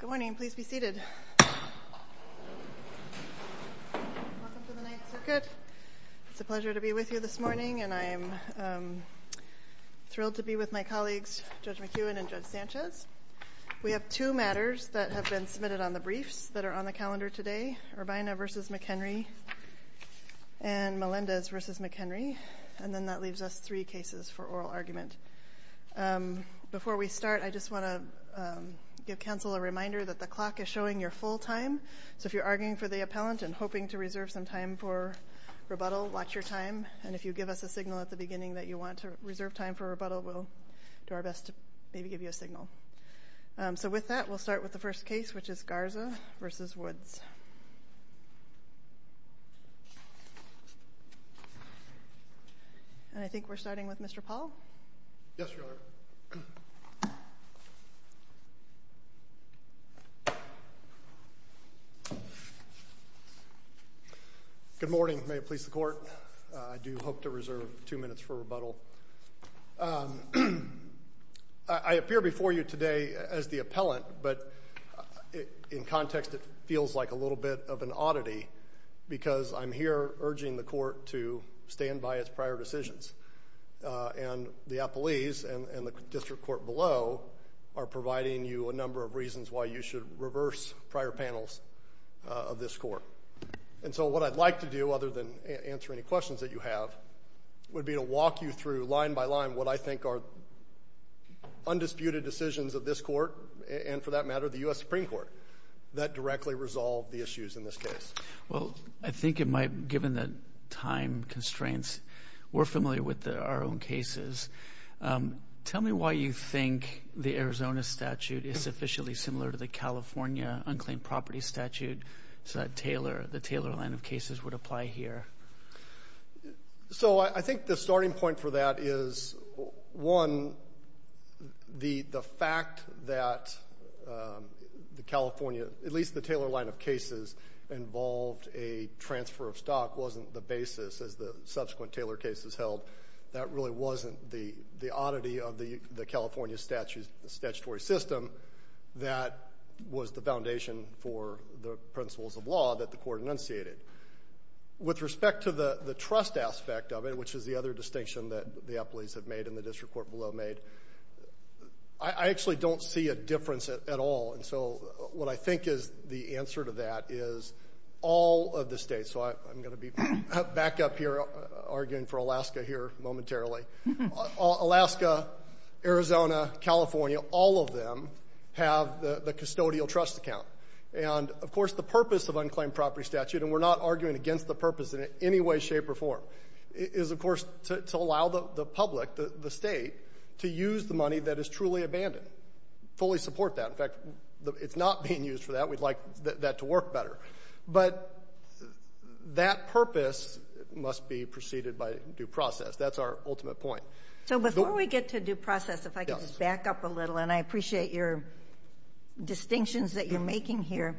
Good morning, please be seated. Welcome to the Ninth Circuit. It's a pleasure to be with you this morning, and I am thrilled to be with my colleagues, Judge McEwen and Judge Sanchez. We have two matters that have been submitted on the briefs that are on the calendar today, Urbina v. McHenry and Melendez v. McHenry, and then that leaves us three cases for oral argument. Before we start, I just want to give counsel a reminder that the clock is showing your full time, so if you're arguing for the appellant and hoping to reserve some time for rebuttal, watch your time, and if you give us a signal at the beginning that you want to reserve time for rebuttal, we'll do our best to maybe give you a signal. So with that, we'll start with the first case, which is Garza v. Woods. And I think we're starting with Mr. Paul. Yes, Your Honor. Good morning. May it please the Court. I do hope to reserve two minutes for rebuttal. I appear before you today as the appellant, but in context it feels like a little bit of an oddity because I'm here urging the Court to stand by its prior decisions. And the appellees and the district court below are providing you a number of reasons why you should reverse prior panels of this Court. And so what I'd like to do, other than answer any questions that you have, would be to walk you through line by line what I think are undisputed decisions of this Court and, for that matter, the U.S. Supreme Court that directly resolve the issues in this case. Well, I think it might, given the time constraints, we're familiar with our own cases. Tell me why you think the Arizona statute is sufficiently similar to the California unclaimed property statute so that the Taylor line of cases would apply here. So I think the starting point for that is, one, the fact that the California, at least the Taylor line of cases, involved a transfer of stock wasn't the basis, as the subsequent Taylor cases held. That really wasn't the oddity of the California statutory system. That was the foundation for the principles of law that the Court enunciated. With respect to the trust aspect of it, which is the other distinction that the appellees have made and the district court below made, I actually don't see a difference at all. And so what I think is the answer to that is all of the states. So I'm going to be back up here arguing for Alaska here momentarily. Alaska, Arizona, California, all of them have the custodial trust account. And, of course, the purpose of unclaimed property statute, and we're not arguing against the purpose in any way, shape, or form, is, of course, to allow the public, the State, to use the money that is truly abandoned, fully support that. In fact, it's not being used for that. We'd like that to work better. But that purpose must be preceded by due process. That's our ultimate point. So before we get to due process, if I could just back up a little, and I appreciate your distinctions that you're making here,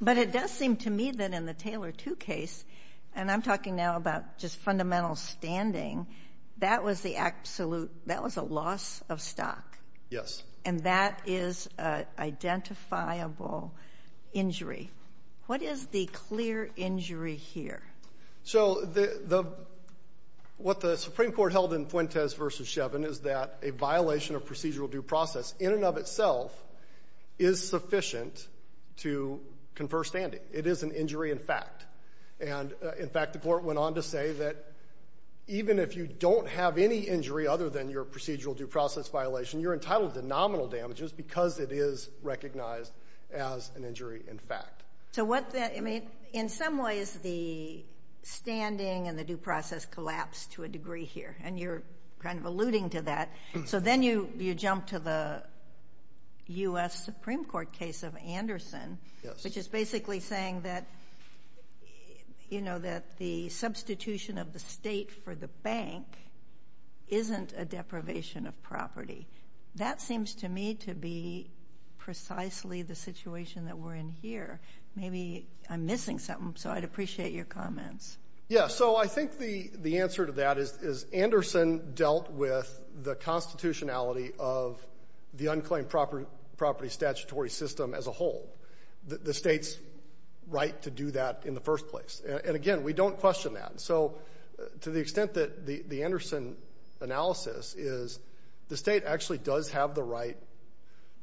but it does seem to me that in the Taylor II case, and I'm talking now about just fundamental standing, that was a loss of stock. Yes. And that is an identifiable injury. What is the clear injury here? So what the Supreme Court held in Fuentes v. Shevin is that a violation of procedural due process in and of itself is sufficient to confer standing. It is an injury in fact. And, in fact, the Court went on to say that even if you don't have any injury other than your procedural due process violation, you're entitled to nominal damages because it is recognized as an injury in fact. In some ways the standing and the due process collapsed to a degree here, and you're kind of alluding to that. So then you jump to the U.S. Supreme Court case of Anderson, which is basically saying that the substitution of the state for the bank isn't a deprivation of property. That seems to me to be precisely the situation that we're in here. Maybe I'm missing something, so I'd appreciate your comments. Yeah, so I think the answer to that is Anderson dealt with the constitutionality of the unclaimed property statutory system as a whole, the state's right to do that in the first place. And, again, we don't question that. So to the extent that the Anderson analysis is the state actually does have the right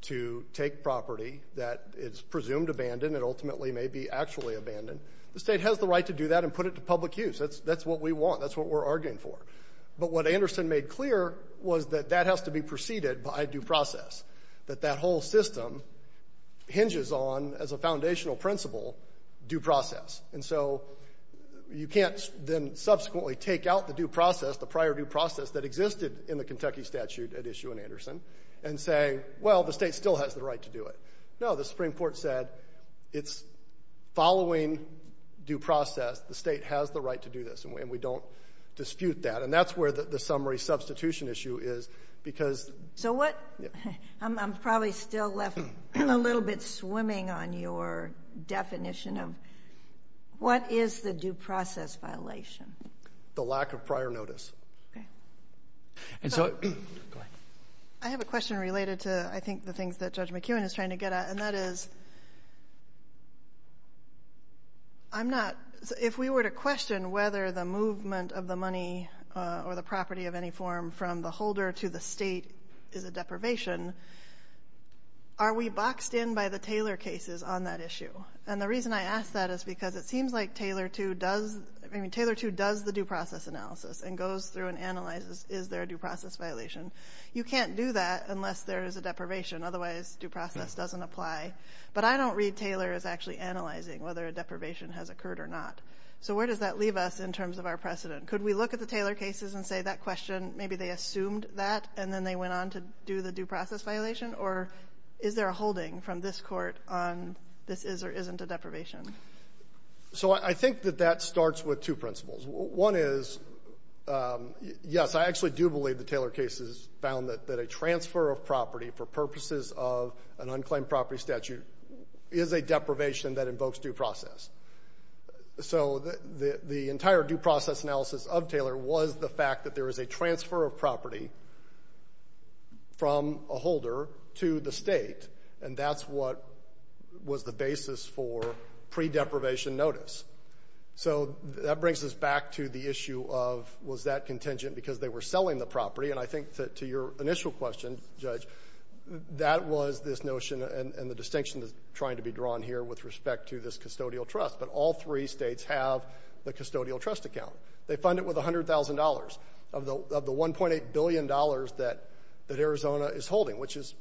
to take property that is presumed abandoned and ultimately may be actually abandoned, the state has the right to do that and put it to public use. That's what we want. That's what we're arguing for. But what Anderson made clear was that that has to be preceded by due process, that that whole system hinges on, as a foundational principle, due process. And so you can't then subsequently take out the due process, the prior due process that existed in the Kentucky statute at issue in Anderson and say, well, the state still has the right to do it. No, the Supreme Court said it's following due process. The state has the right to do this, and we don't dispute that. And that's where the summary substitution issue is, because — I'm probably still left a little bit swimming on your definition of what is the due process violation. The lack of prior notice. I have a question related to, I think, the things that Judge McEwen is trying to get at, and that is I'm not — if we were to question whether the movement of the money or the property of any form from the holder to the state is a deprivation, are we boxed in by the Taylor cases on that issue? And the reason I ask that is because it seems like Taylor II does the due process analysis and goes through and analyzes is there a due process violation. You can't do that unless there is a deprivation. Otherwise, due process doesn't apply. But I don't read Taylor as actually analyzing whether a deprivation has occurred or not. So where does that leave us in terms of our precedent? Could we look at the Taylor cases and say that question, maybe they assumed that and then they went on to do the due process violation? Or is there a holding from this Court on this is or isn't a deprivation? So I think that that starts with two principles. One is, yes, I actually do believe the Taylor cases found that a transfer of property for purposes of an unclaimed property statute is a deprivation that invokes due process. So the entire due process analysis of Taylor was the fact that there is a transfer of property from a holder to the state, and that's what was the basis for pre-deprivation notice. So that brings us back to the issue of was that contingent because they were selling the property. And I think to your initial question, Judge, that was this notion and the distinction that's trying to be drawn here with respect to this custodial trust. But all three states have the custodial trust account. They fund it with $100,000 of the $1.8 billion that Arizona is holding, which is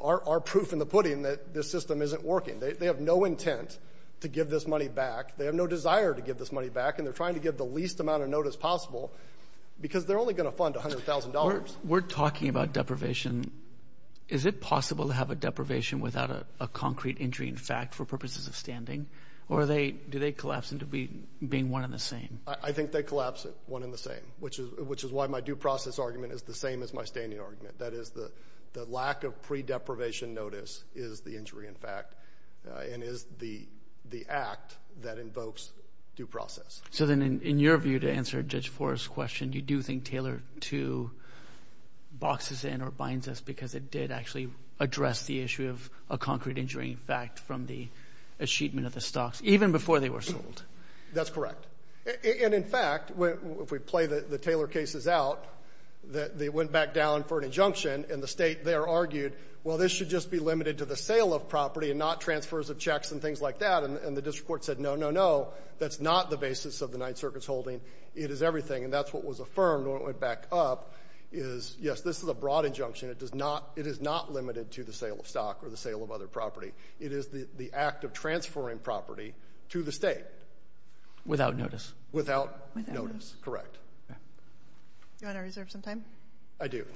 our proof in the pudding that this system isn't working. They have no intent to give this money back. They have no desire to give this money back, and they're trying to give the least amount of notice possible because they're only going to fund $100,000. We're talking about deprivation. Is it possible to have a deprivation without a concrete injury in fact for purposes of standing, or do they collapse into being one and the same? I think they collapse one and the same, which is why my due process argument is the same as my standing argument. That is, the lack of pre-deprivation notice is the injury in fact and is the act that invokes due process. So then in your view, to answer Judge Forrest's question, you do think Taylor 2 boxes in or binds us because it did actually address the issue of a concrete injury in fact from the achievement of the stocks, even before they were sold? That's correct. And in fact, if we play the Taylor cases out, they went back down for an injunction, and the State there argued, well, this should just be limited to the sale of property and not transfers of checks and things like that. And the district court said, no, no, no, that's not the basis of the Ninth Circuit's holding. It is everything. And that's what was affirmed when it went back up is, yes, this is a broad injunction. It is not limited to the sale of stock or the sale of other property. It is the act of transferring property to the State. Without notice. Without notice, correct. Do you want to reserve some time? I do.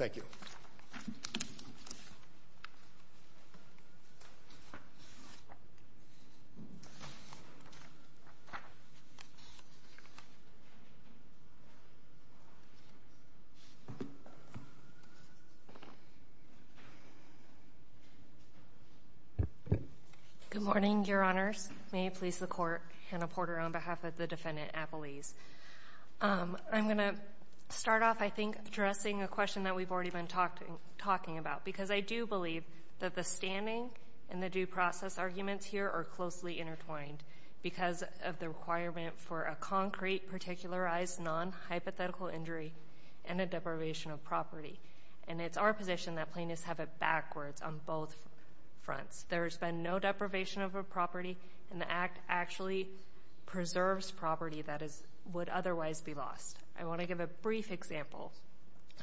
Good morning, Your Honors. May it please the Court, Hannah Porter on behalf of the Defendant Appelese. I'm going to start off, I think, addressing a question that we've already been talking about, because I do believe that the standing and the due process arguments here are closely intertwined because of the requirement for a concrete, particularized, non-hypothetical injury and a deprivation of property. And it's our position that plaintiffs have it backwards on both fronts. There's been no deprivation of a property, and the act actually preserves property that would otherwise be lost. I want to give a brief example.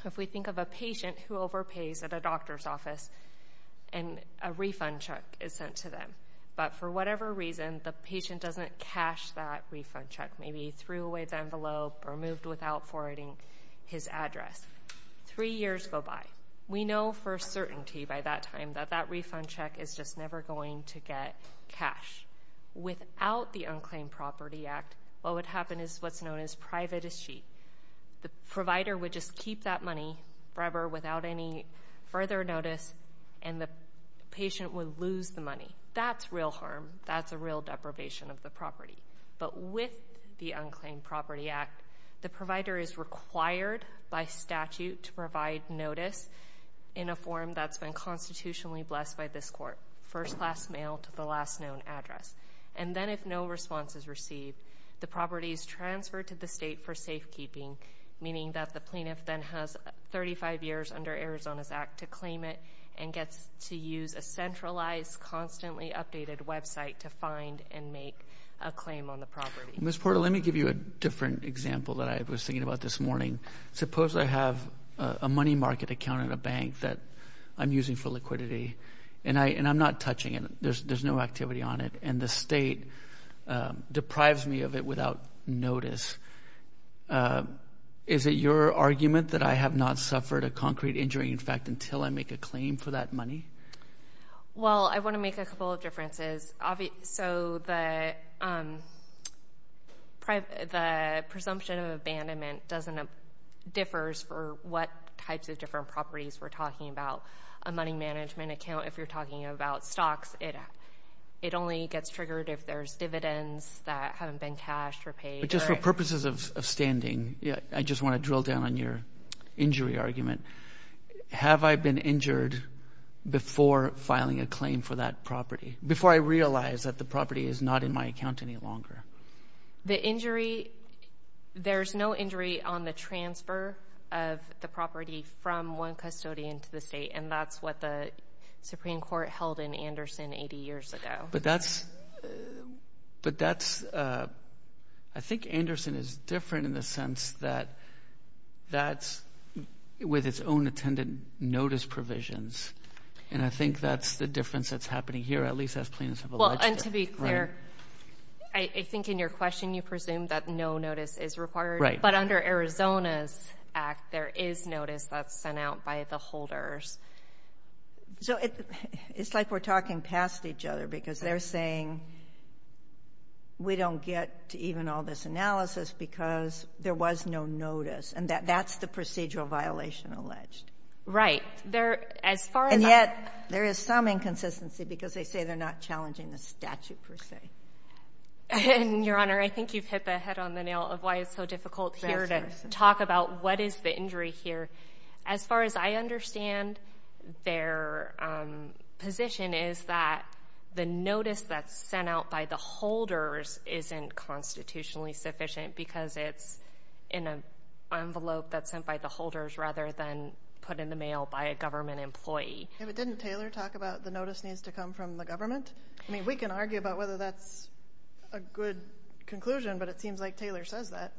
If we think of a patient who overpays at a doctor's office and a refund check is sent to them, but for whatever reason the patient doesn't cash that refund check, maybe threw away the envelope or moved without forwarding his address, three years go by. We know for certainty by that time that that refund check is just never going to get cash. Without the Unclaimed Property Act, what would happen is what's known as private as cheap. The provider would just keep that money forever without any further notice, and the patient would lose the money. That's real harm. That's a real deprivation of the property. But with the Unclaimed Property Act, the provider is required by statute to provide notice in a form that's been constitutionally blessed by this court, first-class mail to the last known address. And then if no response is received, the property is transferred to the state for safekeeping, meaning that the plaintiff then has 35 years under Arizona's act to claim it and gets to use a centralized, constantly updated website to find and make a claim on the property. Ms. Porter, let me give you a different example that I was thinking about this morning. Suppose I have a money market account in a bank that I'm using for liquidity, and I'm not touching it. There's no activity on it. And the state deprives me of it without notice. Is it your argument that I have not suffered a concrete injury, in fact, until I make a claim for that money? Well, I want to make a couple of differences. So the presumption of abandonment differs for what types of different properties we're talking about. A money management account, if you're talking about stocks, it only gets triggered if there's dividends that haven't been cashed or paid. But just for purposes of standing, I just want to drill down on your injury argument. Have I been injured before filing a claim for that property, before I realize that the property is not in my account any longer? The injury, there's no injury on the transfer of the property from one custodian to the state, and that's what the Supreme Court held in Anderson 80 years ago. But that's, I think Anderson is different in the sense that that's with its own attendant notice provisions, and I think that's the difference that's happening here, at least as plaintiffs have alleged it. Well, and to be clear, I think in your question you presumed that no notice is required. Right. But under Arizona's Act, there is notice that's sent out by the holders. So it's like we're talking past each other, because they're saying we don't get to even all this analysis because there was no notice, and that's the procedural violation alleged. Right. There, as far as I know. Because they say they're not challenging the statute per se. And, Your Honor, I think you've hit the head on the nail of why it's so difficult here to talk about what is the injury here. As far as I understand, their position is that the notice that's sent out by the holders isn't constitutionally sufficient because it's in an envelope that's sent by the holders rather than put in the mail by a government employee. Yeah, but didn't Taylor talk about the notice needs to come from the government? I mean, we can argue about whether that's a good conclusion, but it seems like Taylor says that.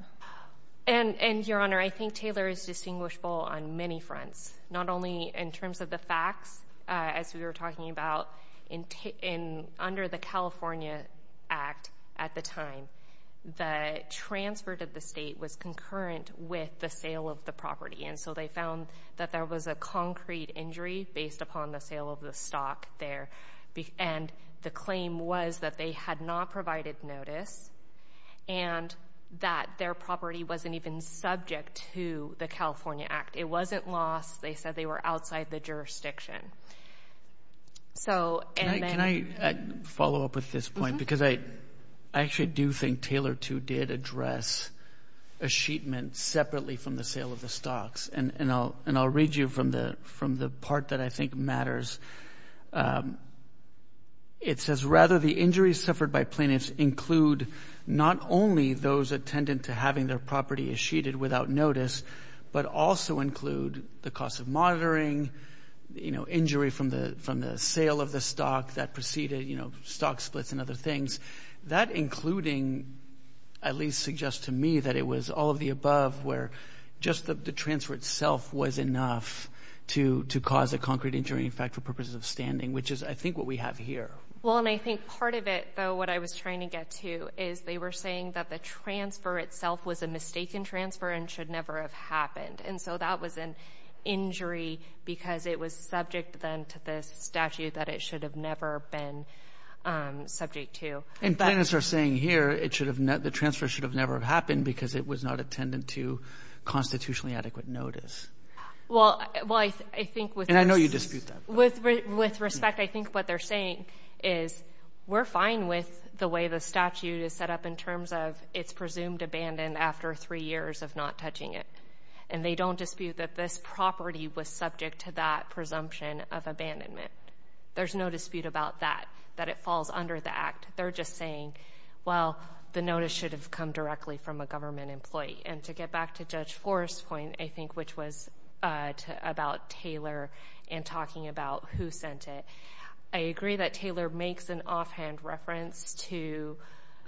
And, Your Honor, I think Taylor is distinguishable on many fronts. Not only in terms of the facts, as we were talking about, under the California Act at the time, the transfer to the state was concurrent with the sale of the property. And so they found that there was a concrete injury based upon the sale of the stock there. And the claim was that they had not provided notice and that their property wasn't even subject to the California Act. It wasn't lost. They said they were outside the jurisdiction. Can I follow up with this point? Because I actually do think Taylor, too, did address a sheet meant separately from the sale of the stocks. And I'll read you from the part that I think matters. It says, rather, the injuries suffered by plaintiffs include not only those attendant to having their property sheeted without notice, but also include the cost of monitoring, injury from the sale of the stock that preceded stock splits and other things. That including, at least suggests to me, that it was all of the above, where just the transfer itself was enough to cause a concrete injury, in fact, for purposes of standing, which is, I think, what we have here. Well, and I think part of it, though, what I was trying to get to, is they were saying that the transfer itself was a mistaken transfer and should never have happened. And so that was an injury because it was subject, then, to the statute that it should have never been subject to. And plaintiffs are saying here the transfer should have never happened because it was not attendant to constitutionally adequate notice. Well, I think with respect, I think what they're saying is we're fine with the way the statute is set up in terms of it's presumed abandoned after three years of not touching it. And they don't dispute that this property was subject to that presumption of abandonment. There's no dispute about that, that it falls under the Act. They're just saying, well, the notice should have come directly from a government employee. And to get back to Judge Forrest's point, I think, which was about Taylor and talking about who sent it, I agree that Taylor makes an offhand reference to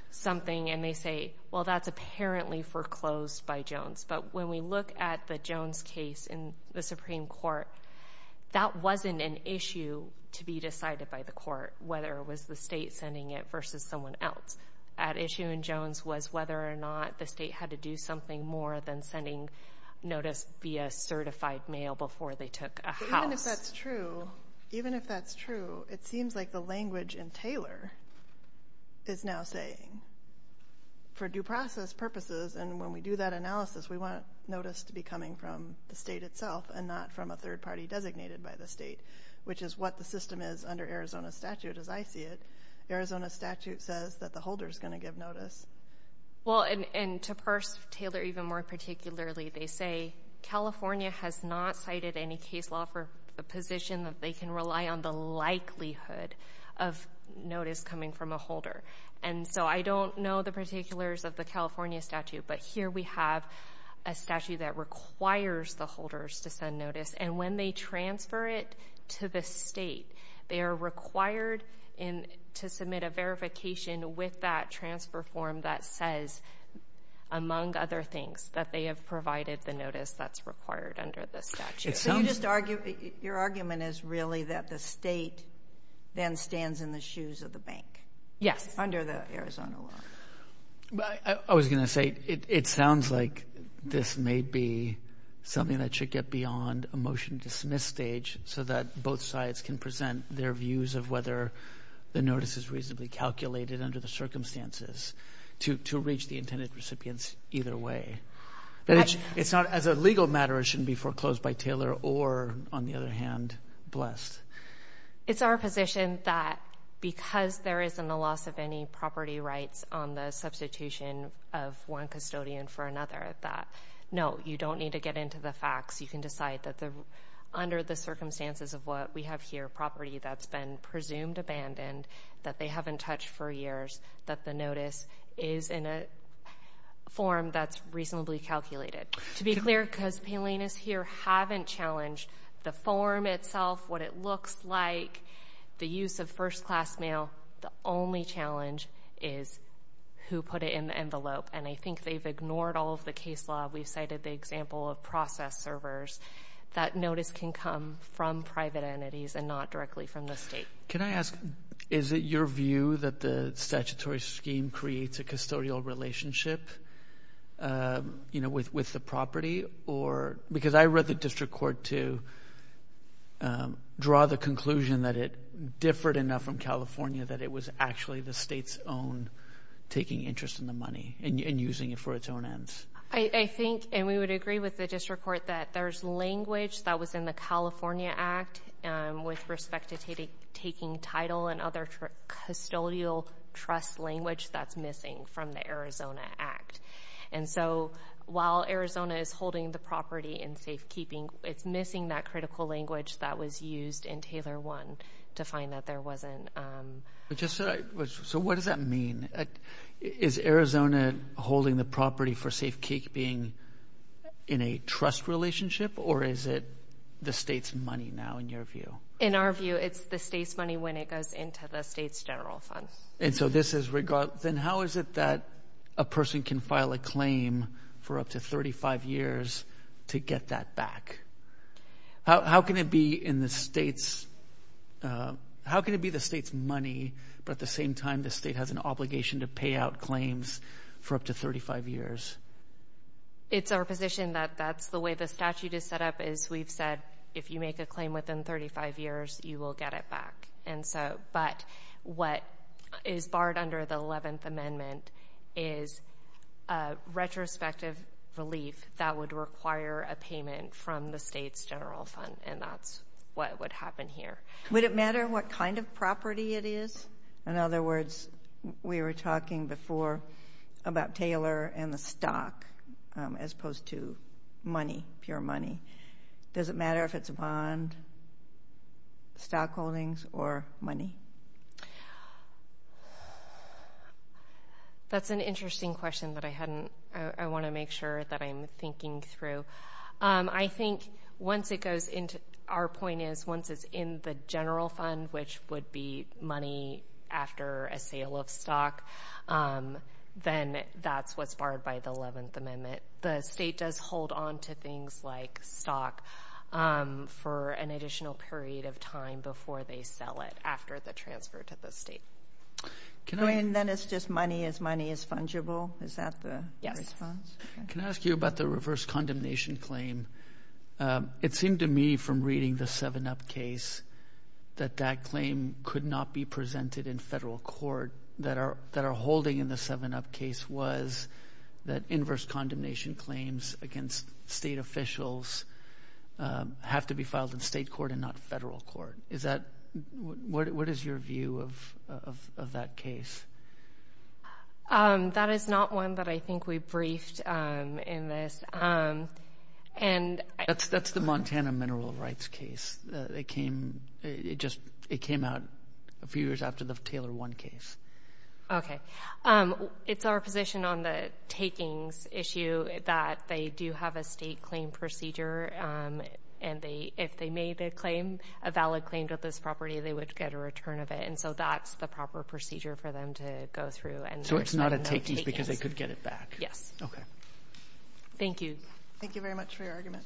something, and they say, well, that's apparently foreclosed by Jones. But when we look at the Jones case in the Supreme Court, that wasn't an issue to be decided by the court, whether it was the state sending it versus someone else. At issue in Jones was whether or not the state had to do something more than sending notice via certified mail before they took a house. Even if that's true, it seems like the language in Taylor is now saying, for due process purposes, and when we do that analysis, we want notice to be coming from the state itself and not from a third party designated by the state, which is what the system is under Arizona statute as I see it. Arizona statute says that the holder is going to give notice. Well, and to parse Taylor even more particularly, they say California has not cited any case law for a position that they can rely on the likelihood of notice coming from a holder. And so I don't know the particulars of the California statute, but here we have a statute that requires the holders to send notice, and when they transfer it to the state, they are required to submit a verification with that transfer form that says, among other things, that they have provided the notice that's required under the statute. So your argument is really that the state then stands in the shoes of the bank? Yes. Under the Arizona law. I was going to say it sounds like this may be something that should get beyond a motion to dismiss stage so that both sides can present their views of whether the notice is reasonably calculated under the circumstances to reach the intended recipients either way. As a legal matter, it shouldn't be foreclosed by Taylor or, on the other hand, blessed. It's our position that because there isn't a loss of any property rights on the substitution of one custodian for another, that, no, you don't need to get into the facts. You can decide that under the circumstances of what we have here, property that's been presumed abandoned, that they haven't touched for years, that the notice is in a form that's reasonably calculated. To be clear, because Paylenas here haven't challenged the form itself, what it looks like, the use of first-class mail, the only challenge is who put it in the envelope, and I think they've ignored all of the case law. We've cited the example of process servers. That notice can come from private entities and not directly from the state. Can I ask, is it your view that the statutory scheme creates a custodial relationship with the property? Because I read the district court to draw the conclusion that it differed enough from California that it was actually the state's own taking interest in the money and using it for its own ends. I think, and we would agree with the district court, that there's language that was in the California Act with respect to taking title and other custodial trust language that's missing from the Arizona Act. And so while Arizona is holding the property in safekeeping, it's missing that critical language that was used in Taylor 1 to find that there wasn't. So what does that mean? Is Arizona holding the property for safekeeping in a trust relationship, or is it the state's money now in your view? In our view, it's the state's money when it goes into the state's general fund. Then how is it that a person can file a claim for up to 35 years to get that back? How can it be the state's money, but at the same time the state has an obligation to pay out claims for up to 35 years? It's our position that that's the way the statute is set up. As we've said, if you make a claim within 35 years, you will get it back. But what is barred under the 11th Amendment is retrospective relief that would require a payment from the state's general fund, and that's what would happen here. Would it matter what kind of property it is? In other words, we were talking before about Taylor and the stock as opposed to money, pure money. Does it matter if it's a bond, stock holdings, or money? That's an interesting question that I want to make sure that I'm thinking through. I think our point is once it's in the general fund, which would be money after a sale of stock, then that's what's barred by the 11th Amendment. The state does hold on to things like stock for an additional period of time before they sell it after the transfer to the state. And then it's just money as money is fungible? Is that the response? Can I ask you about the reverse condemnation claim? It seemed to me from reading the 7-Up case that that claim could not be presented in federal court. The argument that our holding in the 7-Up case was that inverse condemnation claims against state officials have to be filed in state court and not federal court. What is your view of that case? That is not one that I think we briefed in this. That's the Montana mineral rights case. It came out a few years after the Taylor One case. It's our position on the takings issue that they do have a state claim procedure. And if they made a claim, a valid claim to this property, they would get a return of it. And so that's the proper procedure for them to go through. So it's not a takings because they could get it back? Yes. Thank you. Thank you very much for your argument.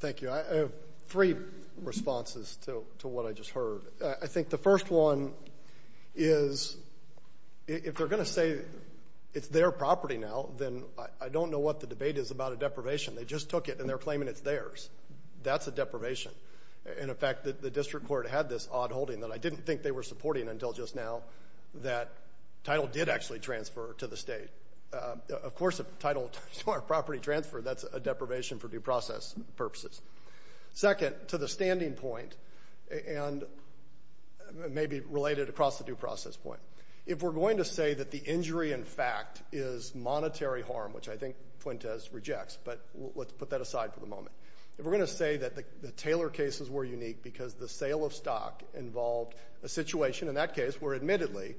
Thank you. I have three responses to what I just heard. I think the first one is if they're going to say it's their property now, then I don't know what the debate is about a deprivation. They just took it and they're claiming it's theirs. That's a deprivation. And, in fact, the district court had this odd holding that I didn't think they were supporting until just now that title did actually transfer to the state. Of course, if title or property transfer, that's a deprivation for due process purposes. Second, to the standing point, and maybe related across the due process point, if we're going to say that the injury, in fact, is monetary harm, which I think Fuentes rejects, but let's put that aside for the moment. If we're going to say that the Taylor cases were unique because the sale of stock involved a situation, in that case, where, admittedly,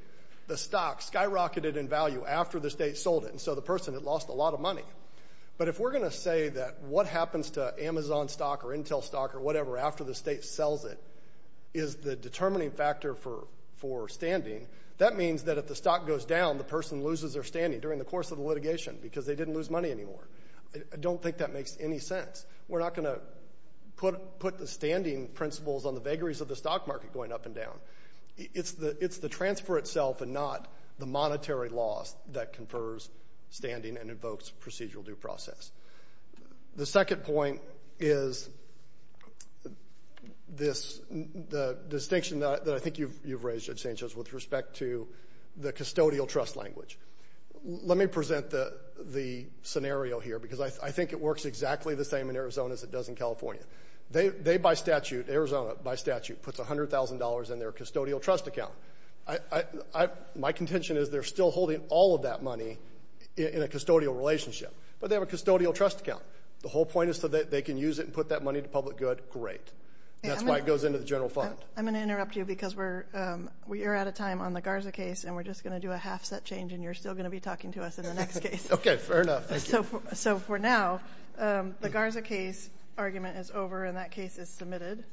the stock skyrocketed in value after the state sold it, and so the person had lost a lot of money. But if we're going to say that what happens to Amazon stock or Intel stock or whatever after the state sells it is the determining factor for standing, that means that if the stock goes down, the person loses their standing during the course of the litigation because they didn't lose money anymore. I don't think that makes any sense. We're not going to put the standing principles on the vagaries of the stock market going up and down. It's the transfer itself and not the monetary loss that confers standing and invokes procedural due process. The second point is the distinction that I think you've raised, Judge Sanchez, with respect to the custodial trust language. Let me present the scenario here because I think it works exactly the same in Arizona as it does in California. They, by statute, Arizona, by statute, puts $100,000 in their custodial trust account. My contention is they're still holding all of that money in a custodial relationship, but they have a custodial trust account. The whole point is so that they can use it and put that money to public good. Great. That's why it goes into the general fund. I'm going to interrupt you because we are out of time on the Garza case, and we're just going to do a half-set change, and you're still going to be talking to us in the next case. Okay, fair enough. For now, the Garza case argument is over, and that case is submitted.